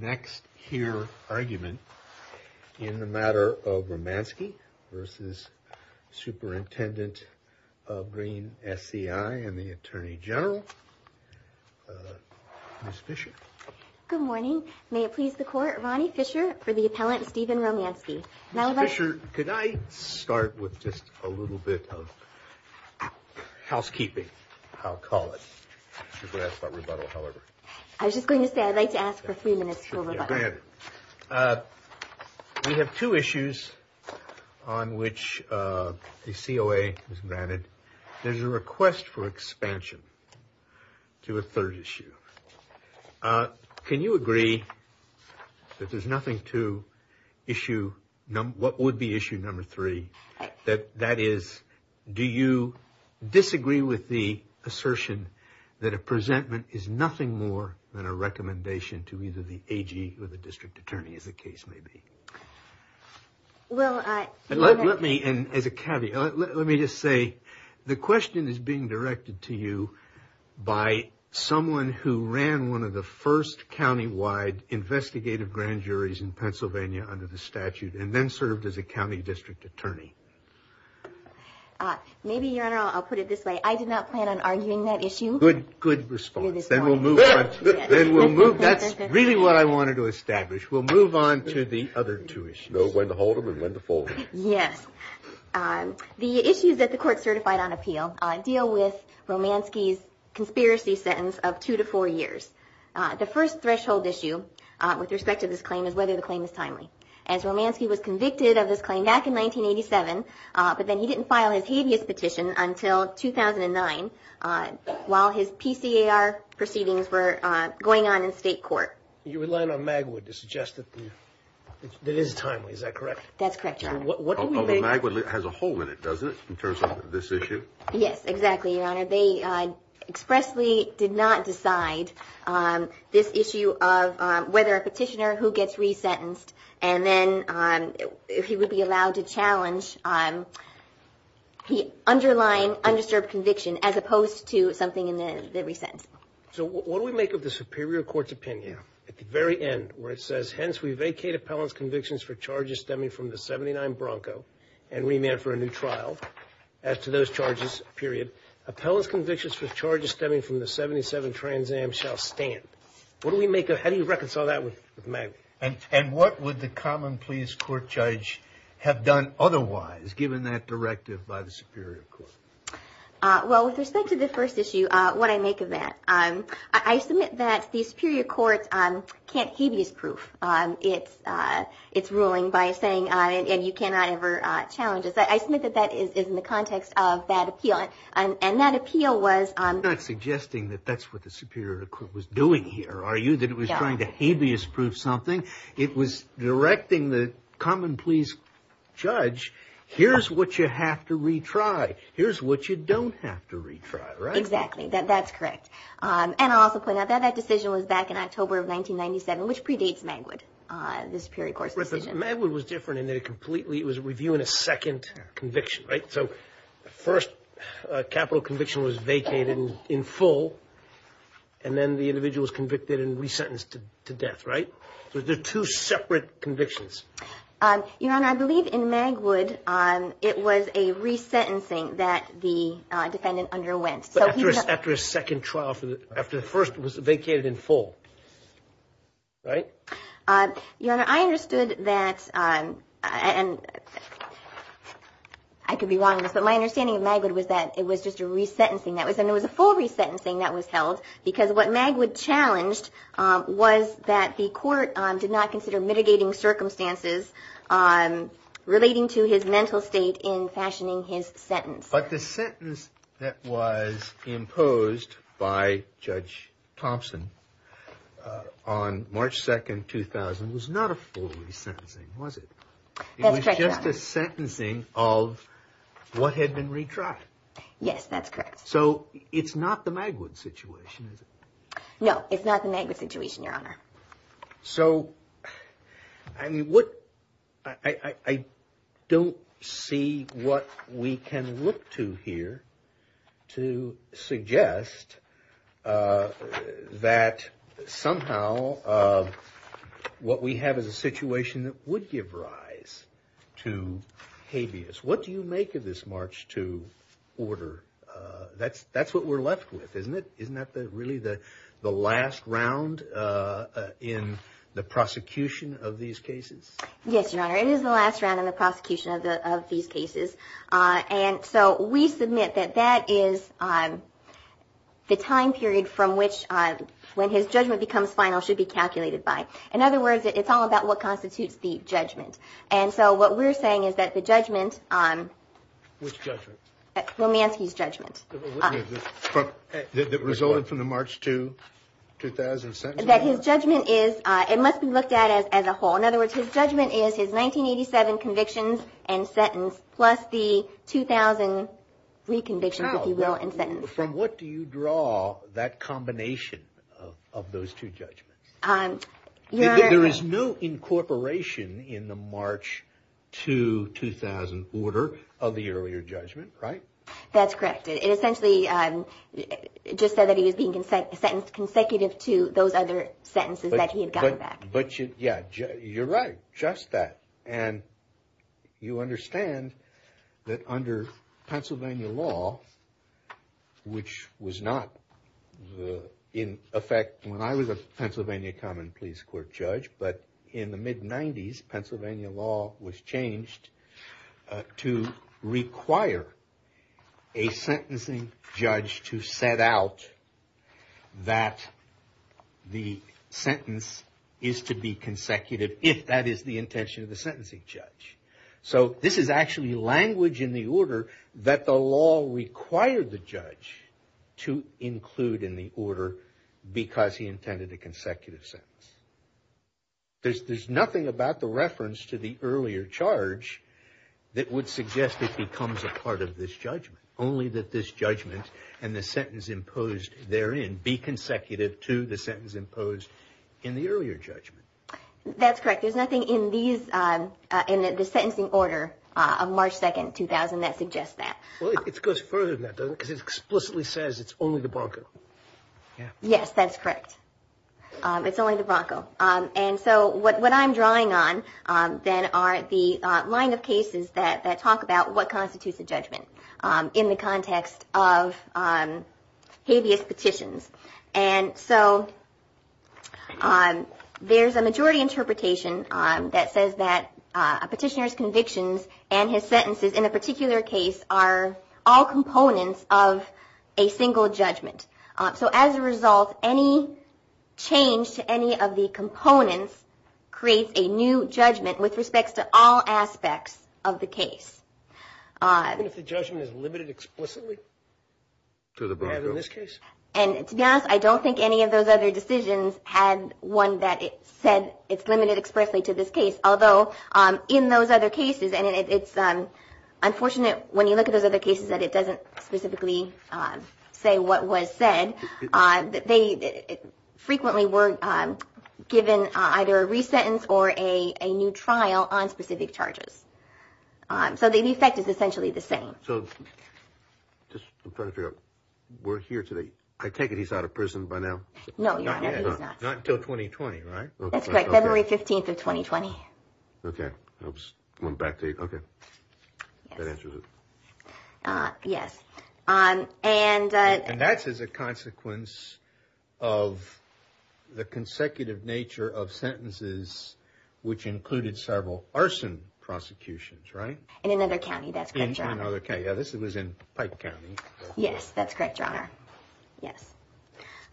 next here argument in the matter of Romansky versus Superintendent of Greene SCI and the Attorney General. Miss Fisher. Good morning. May it please the court. Ronnie Fisher for the appellant Stephen Romansky. Now, Fisher, could I start with just a little bit of housekeeping? I'll call it a rebuttal. However, I was just going to say I'd like to ask for a few minutes. We have two issues on which the COA is granted. There's a request for expansion to a third issue. Can you agree that there's nothing to issue? What would be issue number three? That is, do you disagree with the assertion that a presentment is nothing more than a recommendation to either the AG or the district attorney as the case may be? Well, let me and as a caveat, let me just say the question is being directed to you by someone who ran one of the first countywide investigative grand juries in Pennsylvania under the statute and then served as a county district attorney. Maybe I'll put it this way. I did not plan on arguing that issue. Good response. That's really what I wanted to establish. We'll move on to the other two issues. The issues that the court certified on appeal deal with Romansky's conspiracy sentence of two to four years. The first threshold issue with respect to this claim is whether the claim is timely. Romansky was convicted of this claim back in 1987, but then he didn't file his habeas petition until 2009 while his PCAR proceedings were going on in state court. You rely on Magwood to suggest that it is timely. Is that correct? That's correct. Magwood has a hole in it, doesn't it, in terms of this issue? Yes, exactly, Your Honor. They expressly did not decide this issue of whether a petitioner who gets resentenced and then he would be allowed to challenge the underlying undisturbed conviction as opposed to something in the resent. So what do we make of the superior court's opinion at the very end where it says, hence, we vacate appellant's convictions for charges stemming from the 79 Bronco and remand for a new trial as to those charges, period. Appellant's convictions for charges stemming from the 77 Trans Am shall stand. How do you reconcile that with Magwood? And what would the common pleas court judge have done otherwise given that directive by the superior court? Well, with respect to the first issue, what I make of that, I submit that the superior court can't habeas proof its ruling by saying you cannot ever challenge it. I submit that that is in the context of that appeal. And that appeal was... You're not suggesting that that's what the superior court was doing here, are you? Yeah. It wasn't trying to habeas proof something. It was directing the common pleas judge, here's what you have to retry. Here's what you don't have to retry. Exactly. That's correct. And I'll also point out that that decision was back in October of 1997, which predates Magwood, the superior court's decision. Magwood was different in that it completely... It was reviewing a second conviction, right? So the first capital conviction was vacated in full, and then the individual was convicted and resentenced to death, right? They're two separate convictions. Your Honor, I believe in Magwood, it was a resentencing that the defendant underwent. But after a second trial, after the first was vacated in full, right? Your Honor, I understood that... I could be wrong on this, but my understanding of Magwood was that it was just a resentencing. And it was a full resentencing that was held, because what Magwood challenged was that the court did not consider mitigating circumstances relating to his mental state in fashioning his sentence. But the sentence that was imposed by Judge Thompson on March 2nd, 2000, was not a full resentencing, was it? It was just a sentencing of what had been retried. Yes, that's correct. So it's not the Magwood situation, is it? No, it's not the Magwood situation, Your Honor. So, I don't see what we can look to here to suggest that somehow what we have is a situation that would give rise to habeas. What do you make of this March 2 order? That's what we're left with, isn't it? Isn't that really the last round in the prosecution of these cases? Yes, Your Honor, it is the last round in the prosecution of these cases. And so we submit that that is the time period from which, when his judgment becomes final, should be calculated by. In other words, it's all about what constitutes the judgment. And so what we're saying is that the judgment... Which judgment? Romanski's judgment. That resulted from the March 2, 2000 sentencing? That his judgment is... It must be looked at as a whole. In other words, his judgment is his 1987 convictions and sentence, plus the 2003 convictions, if you will, and sentence. From what do you draw that combination of those two judgments? There is no incorporation in the March 2, 2000 order of the earlier judgment, right? That's correct. It essentially just said that he was being sentenced consecutive to those other sentences that he had gotten back. But, yeah, you're right. Just that. And you understand that under Pennsylvania law, which was not in effect when I was a Pennsylvania common pleas court judge, but in the mid-90s, Pennsylvania law was changed to require a sentencing judge to set out that the sentence is to be consecutive, if that is the intention of the sentencing judge. So this is actually language in the order that the law required the judge to include in the order because he intended a consecutive sentence. There's nothing about the reference to the earlier charge that would suggest it becomes a part of this judgment. Only that this judgment and the sentence imposed therein be consecutive to the sentence imposed in the earlier judgment. That's correct. There's nothing in the sentencing order of March 2, 2000 that suggests that. Well, it goes further than that, doesn't it? Because it explicitly says it's only the Bronco. Yes, that's correct. It's only the Bronco. And so what I'm drawing on then are the line of cases that talk about what constitutes a judgment in the context of habeas petitions. And so there's a majority interpretation that says that a petitioner's convictions and his sentences, in a particular case, are all components of a single judgment. So as a result, any change to any of the components creates a new judgment with respect to all aspects of the case. Even if the judgment is limited explicitly to the Bronco? In this case. And to be honest, I don't think any of those other decisions had one that said it's limited expressly to this case. Although in those other cases, and it's unfortunate when you look at those other cases that it doesn't specifically say what was said, they frequently were given either a re-sentence or a new trial on specific charges. So the effect is essentially the same. So just trying to figure out, we're here today. I take it he's out of prison by now? No, your honor, he's not. Not until 2020, right? That's right. February 15th of 2020. Okay. I'm going back to you. Okay. That answers it. Yes. And. And that's as a consequence of the consecutive nature of sentences, which included several arson prosecutions, right? In another county, that's correct, your honor. Yeah, this was in Pike County. Yes, that's correct, your honor. Yes.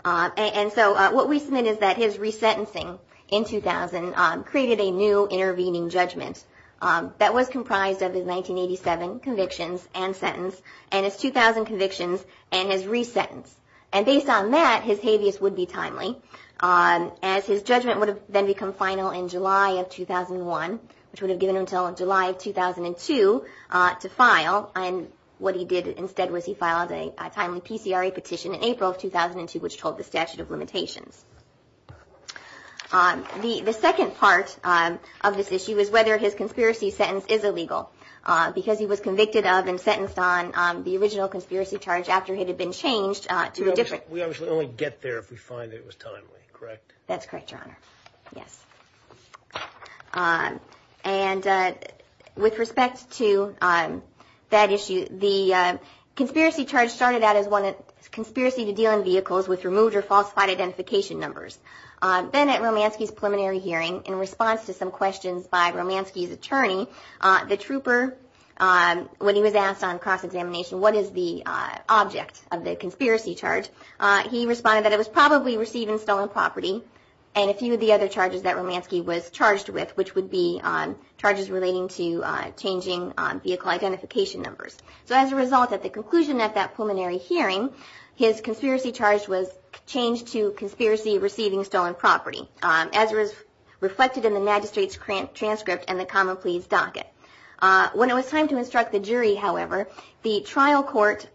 And so what we submit is that his re-sentencing in 2000 created a new intervening judgment that was comprised of his 1987 convictions and sentence and his 2000 convictions and his re-sentence. And based on that, his habeas would be timely as his judgment would have then become final in July of 2001, which would have given him until July of 2002 to file. And what he did instead was he filed a timely PCRA petition in April of 2002, which told the statute of limitations. The second part of this issue is whether his conspiracy sentence is illegal, because he was convicted of and sentenced on the original conspiracy charge after it had been changed to a different. We obviously only get there if we find it was timely, correct? That's correct, your honor. Yes. And with respect to that issue, the conspiracy charge started out as one that conspiracy to deal in vehicles with removed or falsified identification numbers. Then at Romanski's preliminary hearing, in response to some questions by Romanski's attorney, the trooper, when he was asked on cross-examination what is the object of the conspiracy charge, he responded that it was probably receiving stolen property and a few of the other charges that Romanski was charged with, which would be charges relating to changing vehicle identification numbers. So as a result, at the conclusion of that preliminary hearing, his conspiracy charge was changed to conspiracy receiving stolen property, as was reflected in the magistrate's transcript and the common pleas docket. When it was time to instruct the jury, however, the trial court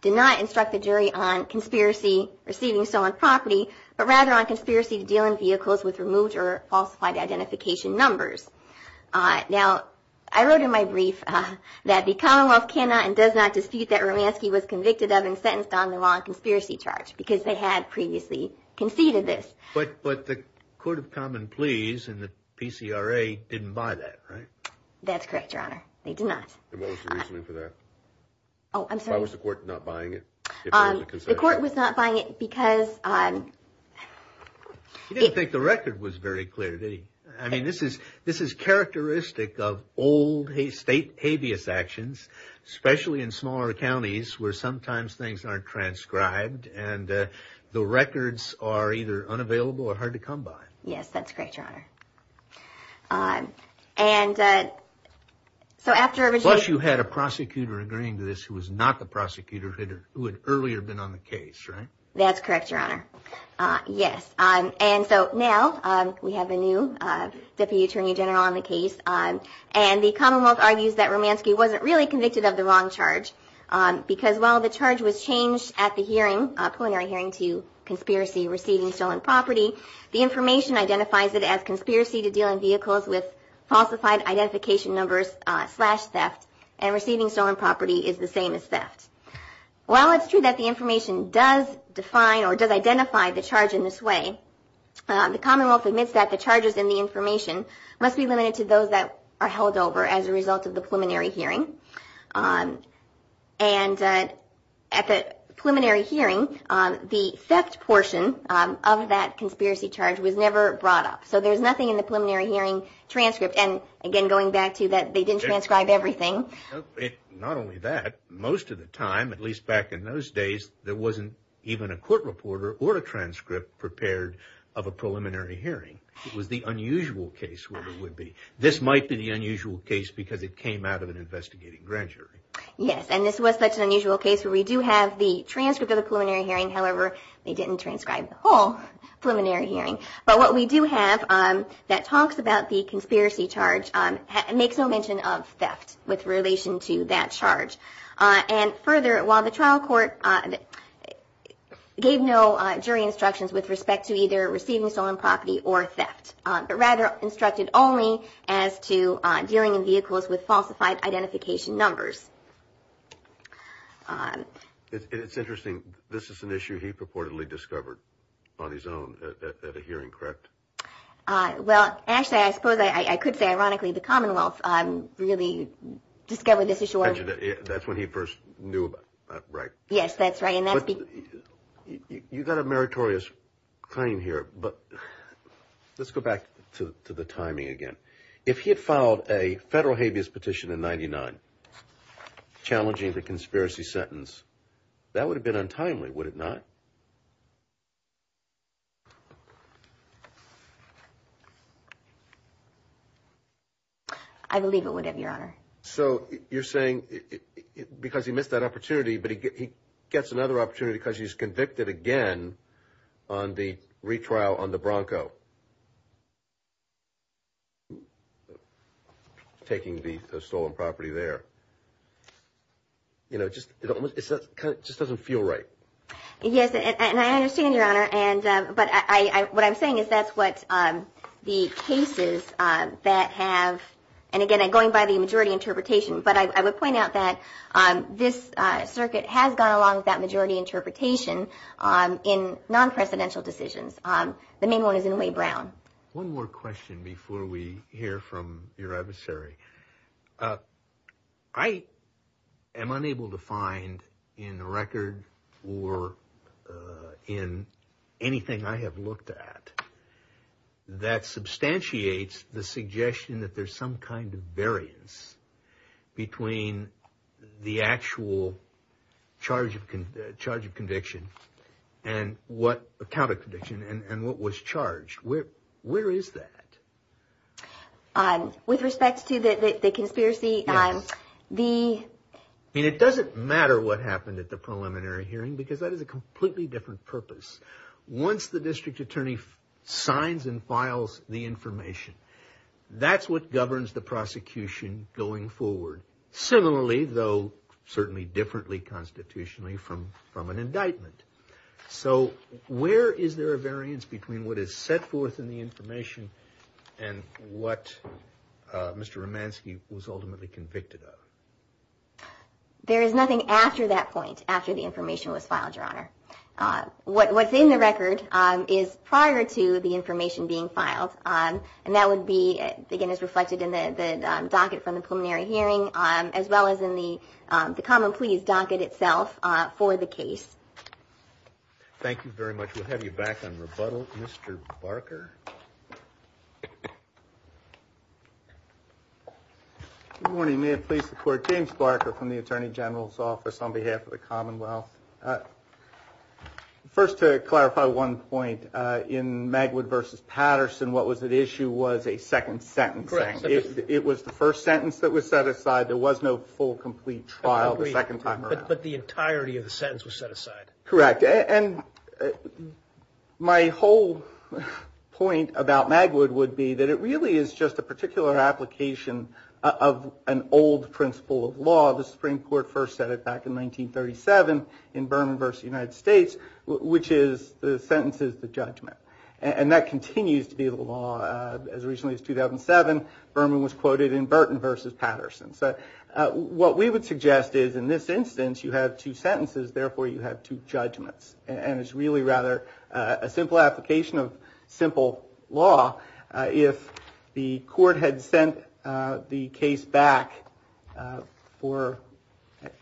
did not instruct the jury on conspiracy receiving stolen property, but rather on conspiracy to deal in vehicles with removed or falsified identification numbers. Now, I wrote in my brief that the Commonwealth cannot and does not dispute that Romanski was convicted of and sentenced on the wrong conspiracy charge because they had previously conceded this. But the Court of Common Pleas and the PCRA didn't buy that, right? That's correct, Your Honor. They did not. And what was the reasoning for that? Oh, I'm sorry. Why was the court not buying it? The court was not buying it because... He didn't think the record was very clear, did he? I mean, this is characteristic of old state habeas actions, especially in smaller counties where sometimes things aren't transcribed and the records are either unavailable or hard to come by. Yes, that's correct, Your Honor. Plus you had a prosecutor agreeing to this who was not the prosecutor, who had earlier been on the case, right? That's correct, Your Honor. Yes. And so now we have a new Deputy Attorney General on the case, and the Commonwealth argues that Romanski wasn't really convicted of the wrong charge because while the charge was changed at the hearing, preliminary hearing, to conspiracy, receiving stolen property, the information identifies it as conspiracy to deal in vehicles with falsified identification numbers slash theft and receiving stolen property is the same as theft. While it's true that the information does define or does identify the charge in this way, the Commonwealth admits that the charges in the information must be limited to those that are held over as a result of the preliminary hearing. And at the preliminary hearing, the theft portion of that conspiracy charge was never brought up. So there's nothing in the preliminary hearing transcript, and again going back to that they didn't transcribe everything. Not only that, most of the time, at least back in those days, there wasn't even a court reporter or a transcript prepared of a preliminary hearing. It was the unusual case where there would be. This might be the unusual case because it came out of an investigating grand jury. Yes, and this was such an unusual case where we do have the transcript of the preliminary hearing. However, they didn't transcribe the whole preliminary hearing. But what we do have that talks about the conspiracy charge makes no mention of theft with relation to that charge. And further, while the trial court gave no jury instructions with respect to either or instructed only as to dealing in vehicles with falsified identification numbers. It's interesting. This is an issue he purportedly discovered on his own at a hearing, correct? Well, actually, I suppose I could say ironically the Commonwealth really discovered this issue. That's when he first knew about it, right? Yes, that's right. You've got a meritorious claim here, but let's go back to the timing again. If he had filed a federal habeas petition in 1999 challenging the conspiracy sentence, that would have been untimely, would it not? So you're saying because he missed that opportunity, but he gets another opportunity because he's convicted again on the retrial on the Bronco, taking the stolen property there. It just doesn't feel right. Yes, and I understand, Your Honor, but what I'm saying is that's what the cases that have, and again, I'm going by the majority interpretation, but I would point out that this circuit has gone along with that majority interpretation in non-presidential decisions. The main one is in Wade Brown. One more question before we hear from your adversary. I am unable to find in the record or in anything I have looked at that substantiates the suggestion that there's some kind of variance between the actual charge of conviction and what was charged. Where is that? With respect to the conspiracy? It doesn't matter what happened at the preliminary hearing because that is a completely different purpose. Once the district attorney signs and files the information, that's what governs the prosecution going forward. Similarly, though certainly differently constitutionally from an indictment. So where is there a variance between what is set forth in the information and what Mr. Romanski was ultimately convicted of? There is nothing after that point, after the information was filed, Your Honor. What's in the record is prior to the information being filed, and that would be again as reflected in the docket from the preliminary hearing as well as in the common pleas docket itself for the case. Thank you very much. We'll have you back on rebuttal. Mr. Barker? Good morning. May it please the Court. James Barker from the Attorney General's Office on behalf of the Commonwealth. First, to clarify one point, in Magwood v. Patterson, what was at issue was a second sentence. Correct. It was the first sentence that was set aside. There was no full, complete trial the second time around. But the entirety of the sentence was set aside. Correct. And my whole point about Magwood would be that it really is just a particular application of an old principle of law. The Supreme Court first set it back in 1937 in Berman v. United States, which is the sentence is the judgment. And that continues to be the law as recently as 2007. Berman was quoted in Burton v. Patterson. What we would suggest is in this instance you have two sentences, therefore you have two judgments. And it's really rather a simple application of simple law. If the Court had sent the case back for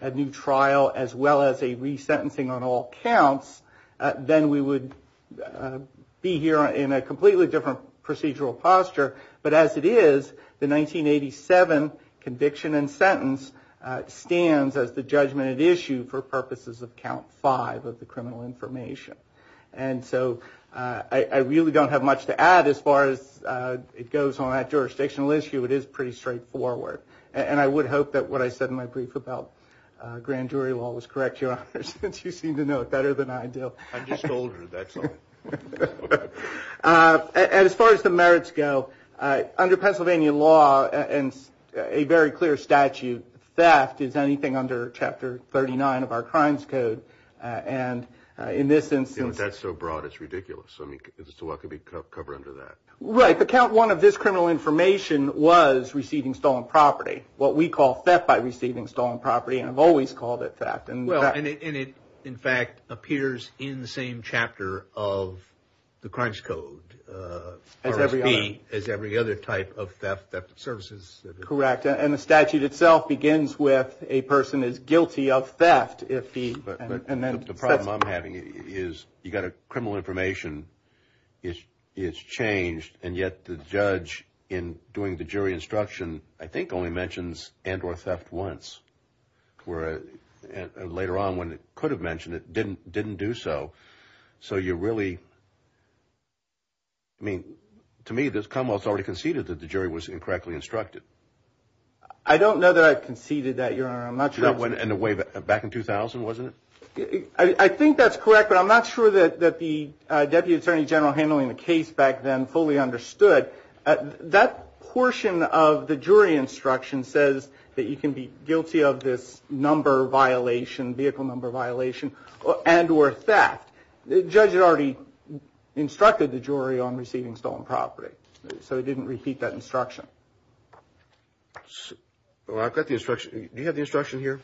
a new trial as well as a resentencing on all counts, then we would be here in a completely different procedural posture. But as it is, the 1987 conviction and sentence stands as the judgment at issue for purposes of count five of the criminal information. And so I really don't have much to add as far as it goes on that jurisdictional issue. It is pretty straightforward. And I would hope that what I said in my brief about grand jury law was correct, Your Honor, since you seem to know it better than I do. I just told her that's all. And as far as the merits go, under Pennsylvania law and a very clear statute, theft is anything under Chapter 39 of our Crimes Code. And in this instance. That's so broad, it's ridiculous. I mean, what could be covered under that? Right. The count one of this criminal information was receiving stolen property. What we call theft by receiving stolen property. And I've always called it theft. And it, in fact, appears in the same chapter of the Crimes Code. As every other type of theft, theft of services. Correct. And the statute itself begins with a person is guilty of theft. The problem I'm having is you've got a criminal information. It's changed. And yet the judge in doing the jury instruction I think only mentions and or theft once. Where later on when it could have mentioned it, didn't do so. So you really. I mean, to me, this Commonwealth's already conceded that the jury was incorrectly instructed. I don't know that I conceded that, Your Honor. I'm not sure. And the way back in 2000, wasn't it? I think that's correct, but I'm not sure that the Deputy Attorney General handling the case back then fully understood. That portion of the jury instruction says that you can be guilty of this number violation, vehicle number violation, and or theft. The judge had already instructed the jury on receiving stolen property. So he didn't repeat that instruction. Well, I've got the instruction. Do you have the instruction here?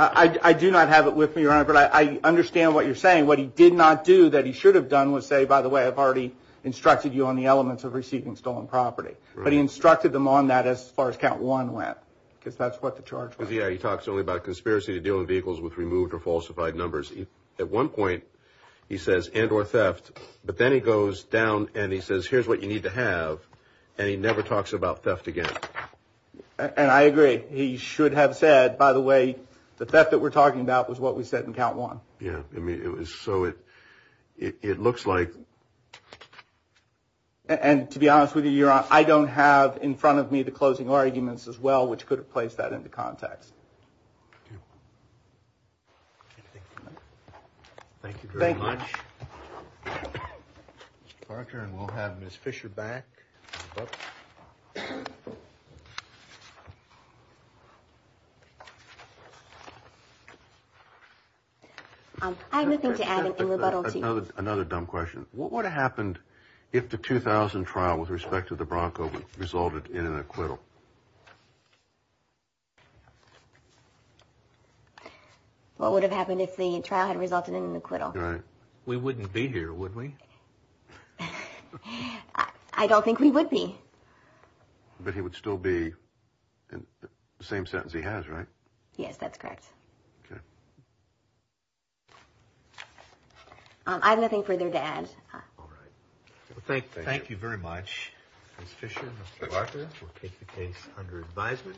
I do not have it with me, Your Honor, but I understand what you're saying. What he did not do that he should have done was say, by the way, I've already instructed you on the elements of receiving stolen property. But he instructed them on that as far as count one went, because that's what the charge was. Yeah, he talks only about conspiracy to deal in vehicles with removed or falsified numbers. At one point, he says and or theft. But then he goes down and he says, here's what you need to have. And he never talks about theft again. And I agree. He should have said, by the way, the theft that we're talking about was what we said in count one. Yeah, I mean, it was. So it it looks like. And to be honest with you, I don't have in front of me the closing arguments as well, which could have placed that into context. Thank you very much. Parker and we'll have Miss Fisher back. I'm looking to add another dumb question. What would have happened if the 2000 trial with respect to the Bronco resulted in an acquittal? What would have happened if the trial had resulted in an acquittal? We wouldn't be here, would we? I don't think we would be. But he would still be in the same sentence. He has. Right. Yes, that's correct. I have nothing further to add. All right. Thank you. Thank you very much. Miss Fisher, Mr. Parker. We'll take the case under advisement.